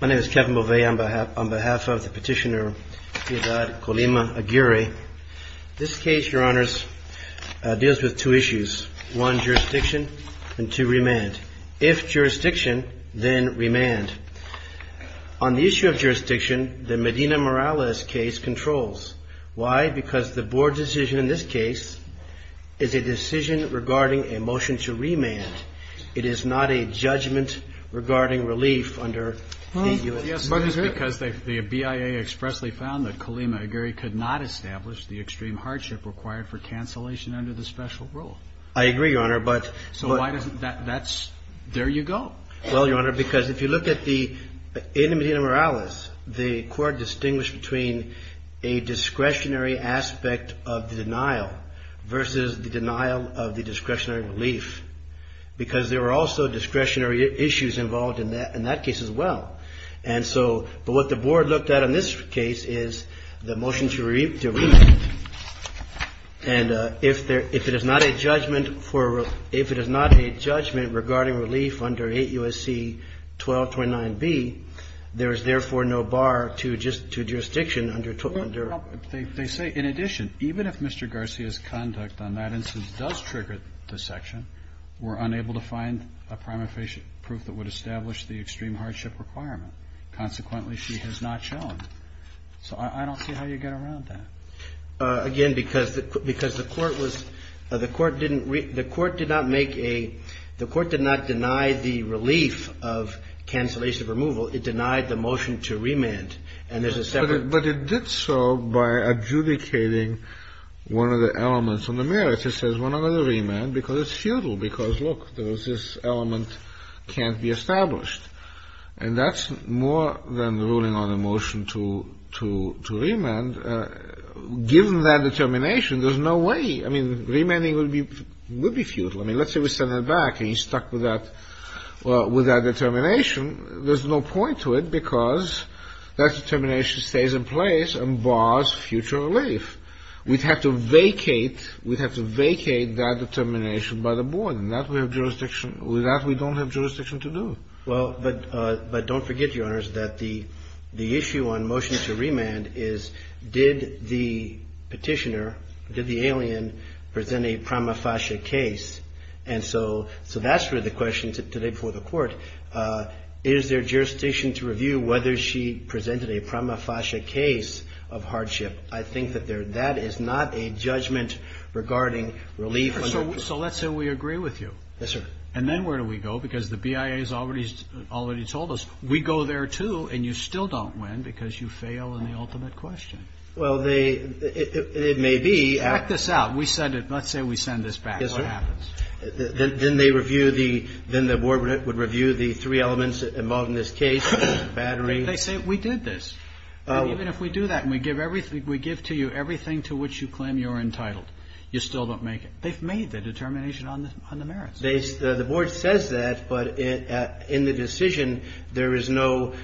My name is Kevin Bovea. On behalf of the petitioner, Ciudad Colima-Aguirre, this case, Your Honors, deals with two issues. One, jurisdiction, and two, remand. If jurisdiction, then remand. On the issue of jurisdiction, the Medina Morales case controls. Why? Because the board decision in this case is a decision regarding a motion to remand. It is not a judgment regarding relief under the U.S. Constitution. Yes, but it's because the BIA expressly found that Colima-Aguirre could not establish the extreme hardship required for cancellation under the special rule. I agree, Your Honor, but So why doesn't that, that's, there you go. Well, Your Honor, because if you look at the, in the Medina Morales, the court distinguished between a discretionary aspect of the denial versus the denial of the discretionary relief because there were also discretionary issues involved in that case as well. And so, but what the board looked at in this case is the motion to remand. And if there, if it is not a judgment for, if it is not a judgment regarding relief under 8 U.S.C. 1229B, there is therefore no bar to jurisdiction under 12, under They say, in addition, even if Mr. Garcia's conduct on that instance does trigger the section, we're unable to find a prima facie proof that would establish the extreme hardship requirement. Consequently, she has not shown. So I don't see how you get around that. Again, because the court was, the court didn't, the court did not make a, the court did not deny the relief of cancellation of removal. It denied the motion to remand. And there's a separate But it did so by adjudicating one of the elements on the merits. It says we're not going to remand because it's futile because, look, there's this element can't be established. And that's more than ruling on a motion to, to, to remand. Given that determination, there's no way. I mean, remanding would be, would be futile. I mean, let's say we send him back and he's stuck with that, with that determination. There's no point to it because that determination stays in place and bars future relief. We'd have to vacate, we'd have to vacate that determination by the board. And that we have jurisdiction, that we don't have jurisdiction to do. Well, but, but don't forget, Your Honors, that the, the issue on motion to remand is did the petitioner, did the alien present a prima facie case? And so, so that's where the question today before the court, is there jurisdiction to review whether she presented a prima facie case of hardship? I think that there, that is not a judgment regarding relief So, so let's say we agree with you. Yes, sir. And then where do we go? Because the BIA has already, already told us we go there too and you still don't win because you fail in the ultimate question. Well, they, it, it may be. Check this out. We said it, let's say we send this back, what happens? Then, then they review the, then the board would review the three elements involved in this case, battery. They say, we did this. And even if we do that and we give everything, we give to you everything to which you claim you're entitled, you still don't make it. They've made the determination on the, on the merits. They, the board says that, but it, in the decision, there is no,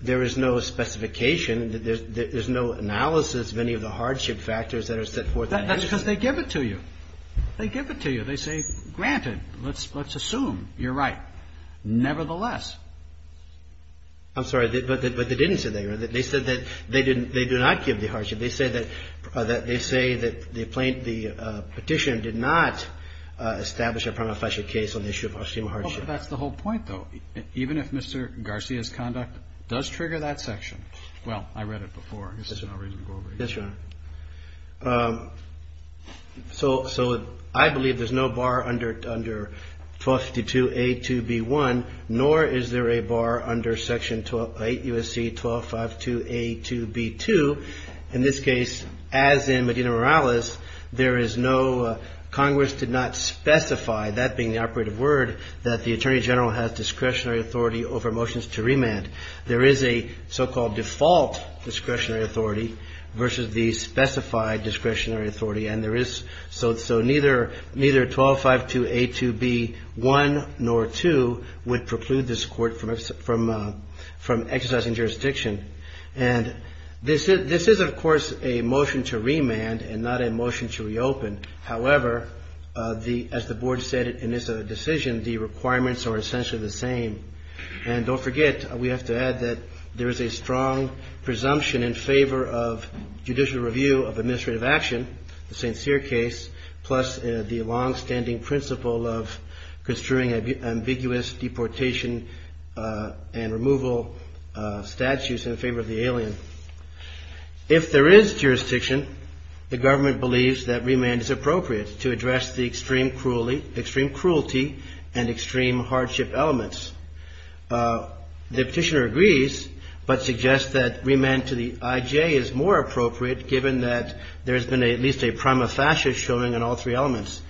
there is no specification. There's, there's no analysis of any of the hardship factors that are set forth in the decision. That's because they give it to you. They give it to you. They say, granted, let's, let's assume you're right. Nevertheless. I'm sorry, but, but they didn't say that. They said that they didn't, they do not give the hardship. They say that, that they say that the plaintiff, the Petitioner did not establish a prima facie case on the issue of extreme hardship. Well, that's the whole point, though. Even if Mr. Garcia's conduct does trigger that section, well, I read it before. There's no reason to go over it again. Yes, Your Honor. So, so I believe there's no bar under, under 1252A2B1, nor is there a bar under Section 8 U.S.C. 1252A2B2. In this case, as in Medina-Morales, there is no, Congress did not specify, that being the operative word, that the Attorney General has discretionary authority over motions to remand. There is a so-called default discretionary authority versus the specified discretionary authority. And there is, so, so neither, neither 1252A2B1 nor 2 would preclude this Court from, from exercising jurisdiction. And this is, this is, of course, a motion to remand and not a motion to reopen. However, the, as the Board said in its decision, the requirements are essentially the same. And don't forget, we have to add that there is a strong presumption in favor of judicial review of administrative action, the sincere case, plus the longstanding principle of construing ambiguous deportation and removal statutes in favor of the alien. If there is jurisdiction, the government believes that remand is appropriate to address the extreme cruelly, extreme cruelty and extreme hardship elements. The Petitioner agrees, but suggests that remand to the IJ is more appropriate given that there has been at least a prima facie showing on all three elements.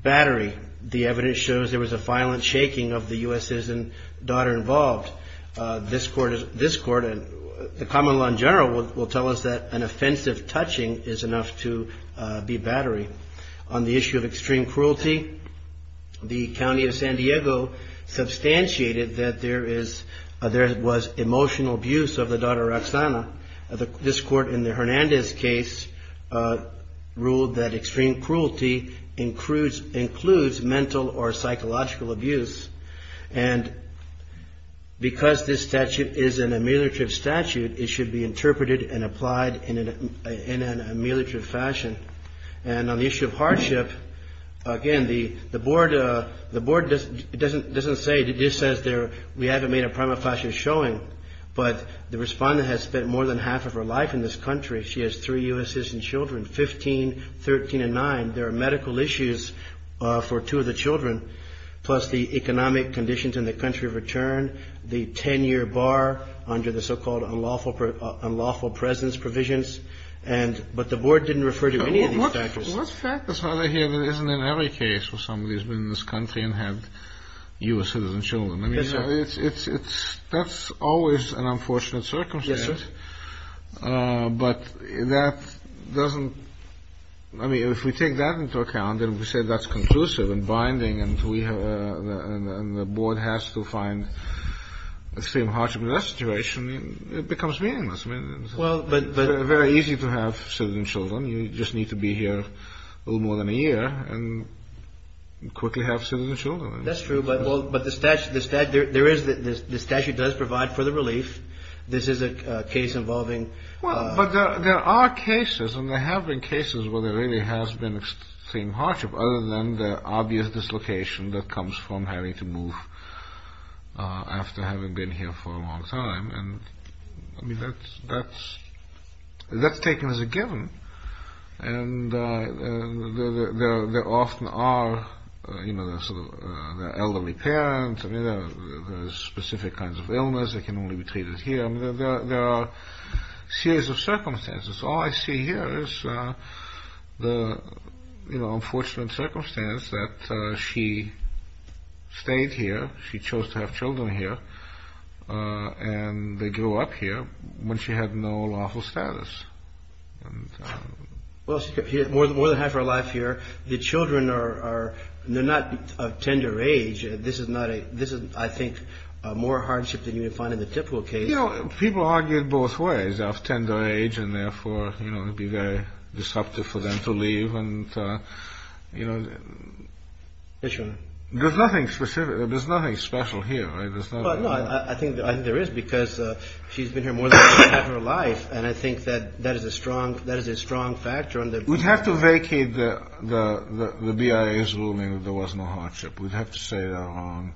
Battery, the evidence shows there was a violent shaking of the U.S. citizen daughter involved. This court, this court and the common law in general will tell us that an offensive touching is enough to be battery. On the issue of extreme cruelty, the county of San Diego substantiated that there is, there was emotional abuse of the daughter, Roxana. This court in the Hernandez case ruled that extreme cruelty includes mental or psychological abuse. And because this statute is an ameliorative statute, it should be interpreted and applied in an ameliorative fashion. And on the issue of hardship, again, the board doesn't say, it just says there, we haven't made a prima facie showing, but the respondent has spent more than half of her life in this country. She has three U.S. citizen children, 15, 13 and nine. There are medical issues for two of the children, plus the economic conditions in the country of return, the 10 year bar under the so-called unlawful, unlawful presence provisions. And but the board didn't refer to any of these factors. What factors are there here that isn't in every case where somebody has been in this country and had U.S. That's always an unfortunate circumstance. But that doesn't I mean, if we take that into account and we say that's conclusive and binding and we have the board has to find extreme hardship in that situation, it becomes meaningless. Well, but it's very easy to have citizen children. You just need to be here a little more than a year and quickly have citizen children. That's true. But but the statute, the statute, there is the statute does provide for the relief. This is a case involving. But there are cases and there have been cases where there really has been extreme hardship other than the obvious dislocation that comes from having to move after having been here for a long time. And I mean, that's that's that's taken as a given. And there often are, you know, sort of elderly parents and specific kinds of illness that can only be treated here. There are series of circumstances. All I see here is the unfortunate circumstance that she stayed here. She chose to have children here and they grew up here when she had no lawful status. And well, she had more than more than half her life here. The children are they're not of tender age. This is not a this is, I think, more hardship than you would find in the typical case. You know, people argued both ways of tender age and therefore, you know, it'd be very disruptive for them to leave. And, you know, there's nothing specific. There's nothing special here, right? There's not. I think there is because she's been here more than half her life. And I think that that is a strong that is a strong factor on that. We'd have to vacate the BIA's ruling that there was no hardship. We'd have to say they're wrong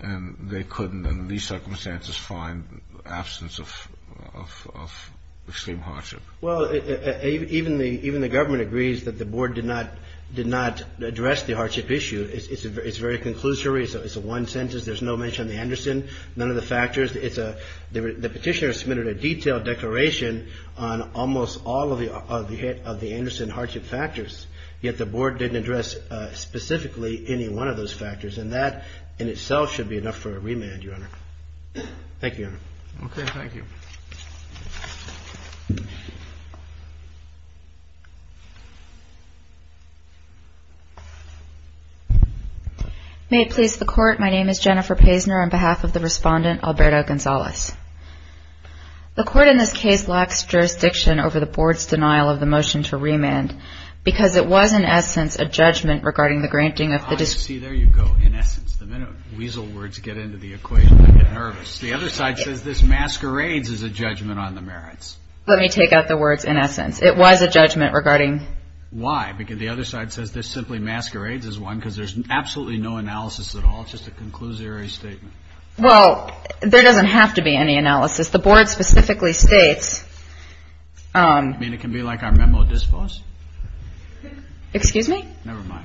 and they couldn't in these circumstances find absence of extreme hardship. Well, even the even the government agrees that the board did not did not address the hardship issue. It's very conclusive. It's a one sentence. There's no mention of the Anderson. None of the factors. It's a the petitioner submitted a detailed declaration on almost all of the hit of the Anderson hardship factors. Yet the board didn't address specifically any one of those factors. And that in itself should be enough for a remand. Your honor. Thank you. OK, thank you. May it please the court. My name is Jennifer Paisner on behalf of the respondent, Alberto Gonzalez. The court in this case lacks jurisdiction over the board's denial of the motion to remand because it was, in essence, a judgment regarding the granting of the. See, there you go. In essence, the minute weasel words get into the equation, I get nervous. The other side says this masquerades as a judgment on the merits. Let me take out the words. In essence, it was a judgment regarding. Why? Because the other side says this simply masquerades as one because there's absolutely no analysis at all. It's just a conclusionary statement. Well, there doesn't have to be any analysis. The board specifically states. I mean, it can be like our memo discourse. Excuse me. Never mind.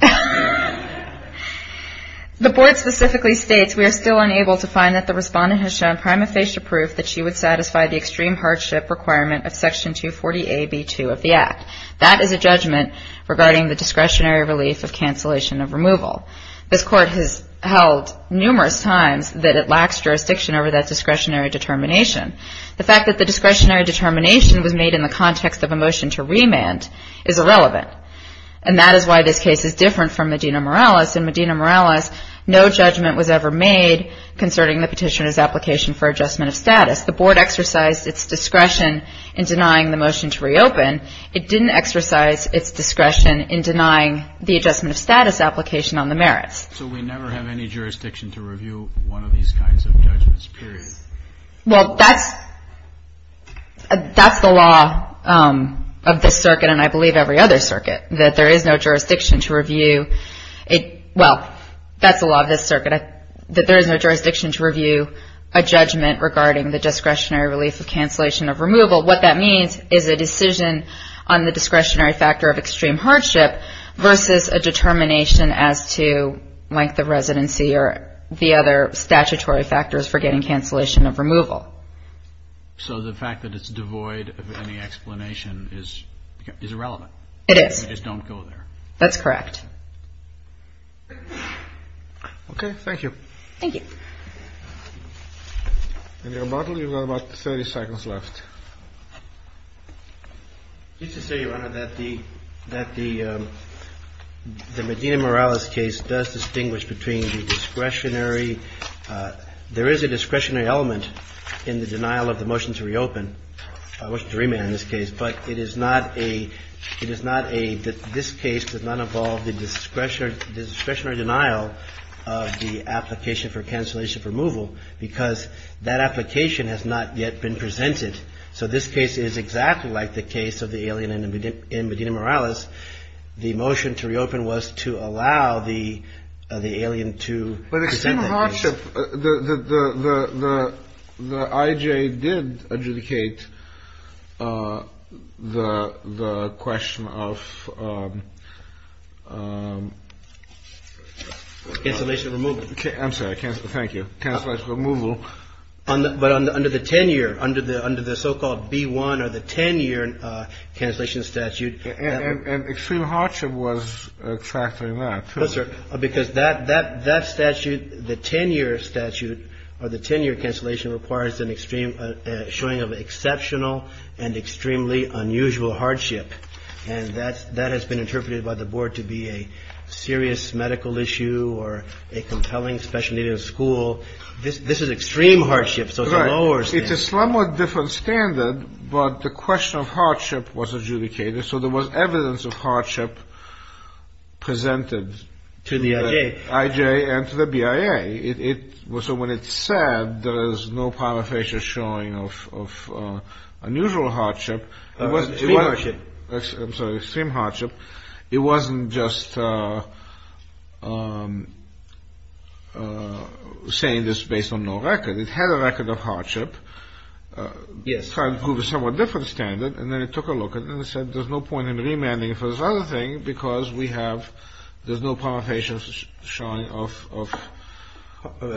The board specifically states we are still unable to find that the respondent has shown prima facie proof that she would satisfy the extreme hardship requirement of Section 240 AB 2 of the Act. That is a judgment regarding the discretionary relief of cancellation of removal. This court has held numerous times that it lacks jurisdiction over that discretionary determination. The fact that the discretionary determination was made in the context of a motion to remand is irrelevant. And that is why this case is different from Medina-Morales. In Medina-Morales, no judgment was ever made concerning the petitioner's application for adjustment of status. The board exercised its discretion in denying the motion to reopen. It didn't exercise its discretion in denying the adjustment of status application on the merits. So we never have any jurisdiction to review one of these kinds of judgments, period? Well, that's the law of this circuit, and I believe every other circuit, that there is no jurisdiction to review it. Well, that's the law of this circuit, that there is no jurisdiction to review a judgment regarding the discretionary relief of cancellation of removal. What that means is a decision on the discretionary factor of extreme hardship versus a determination as to length of residency or the other statutory factors for getting cancellation of removal. So the fact that it's devoid of any explanation is irrelevant? It is. You just don't go there? That's correct. Okay, thank you. Thank you. And, Your Honor, you've got about 30 seconds left. Just to say, Your Honor, that the Medina-Morales case does distinguish between the discretionary – there is a discretionary element in the denial of the motion to reopen, motion to remand in this case, but it is not a – it is not a – this case does not involve the discretionary denial of the application for cancellation of removal because that application has not yet been presented. So this case is exactly like the case of the alien in Medina-Morales. The motion to reopen was to allow the alien to present that case. But extreme hardship – the IJ did adjudicate the question of – Cancellation of removal. I'm sorry. Cancellation of removal. But under the 10-year – under the so-called B-1 or the 10-year cancellation statute – And extreme hardship was factoring that, too. No, sir, because that statute, the 10-year statute or the 10-year cancellation requires an extreme – showing of exceptional and extremely unusual hardship. And that's – that has been interpreted by the board to be a serious medical issue or a compelling special need of school. This is extreme hardship, so it's a lower standard. It's a somewhat different standard, but the question of hardship was adjudicated, so there was evidence of hardship presented to the IJ and to the BIA. It was – so when it said there is no palmar fascia showing of unusual hardship, it wasn't extreme hardship. I'm sorry, extreme hardship. It wasn't just saying this based on no record. It had a record of hardship. Yes. Trying to prove a somewhat different standard. And then it took a look and then it said there's no point in remanding for this other thing because we have – there's no palmar fascia showing of – Of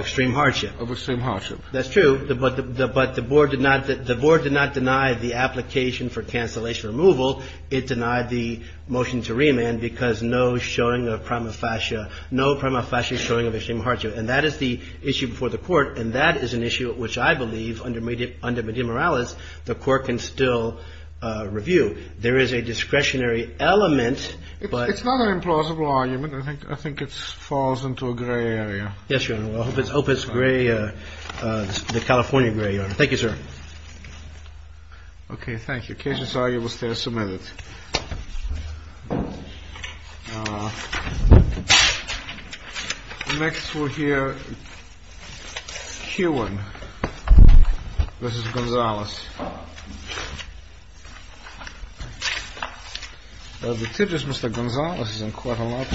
extreme hardship. Of extreme hardship. That's true, but the board did not – the board did not deny the application for cancellation removal. It denied the motion to remand because no showing of palmar fascia – no palmar fascia showing of extreme hardship. And that is the issue before the court, and that is an issue which I believe under medial moralis the court can still review. There is a discretionary element, but – It's not an implausible argument. I think it falls into a gray area. Yes, Your Honor. I hope it's gray – the California gray, Your Honor. Thank you, sir. Okay, thank you. Case is argued. We'll stay a minute. Next we'll hear Keoghan versus Gonzales. The tip is Mr. Gonzales is in court a lot today.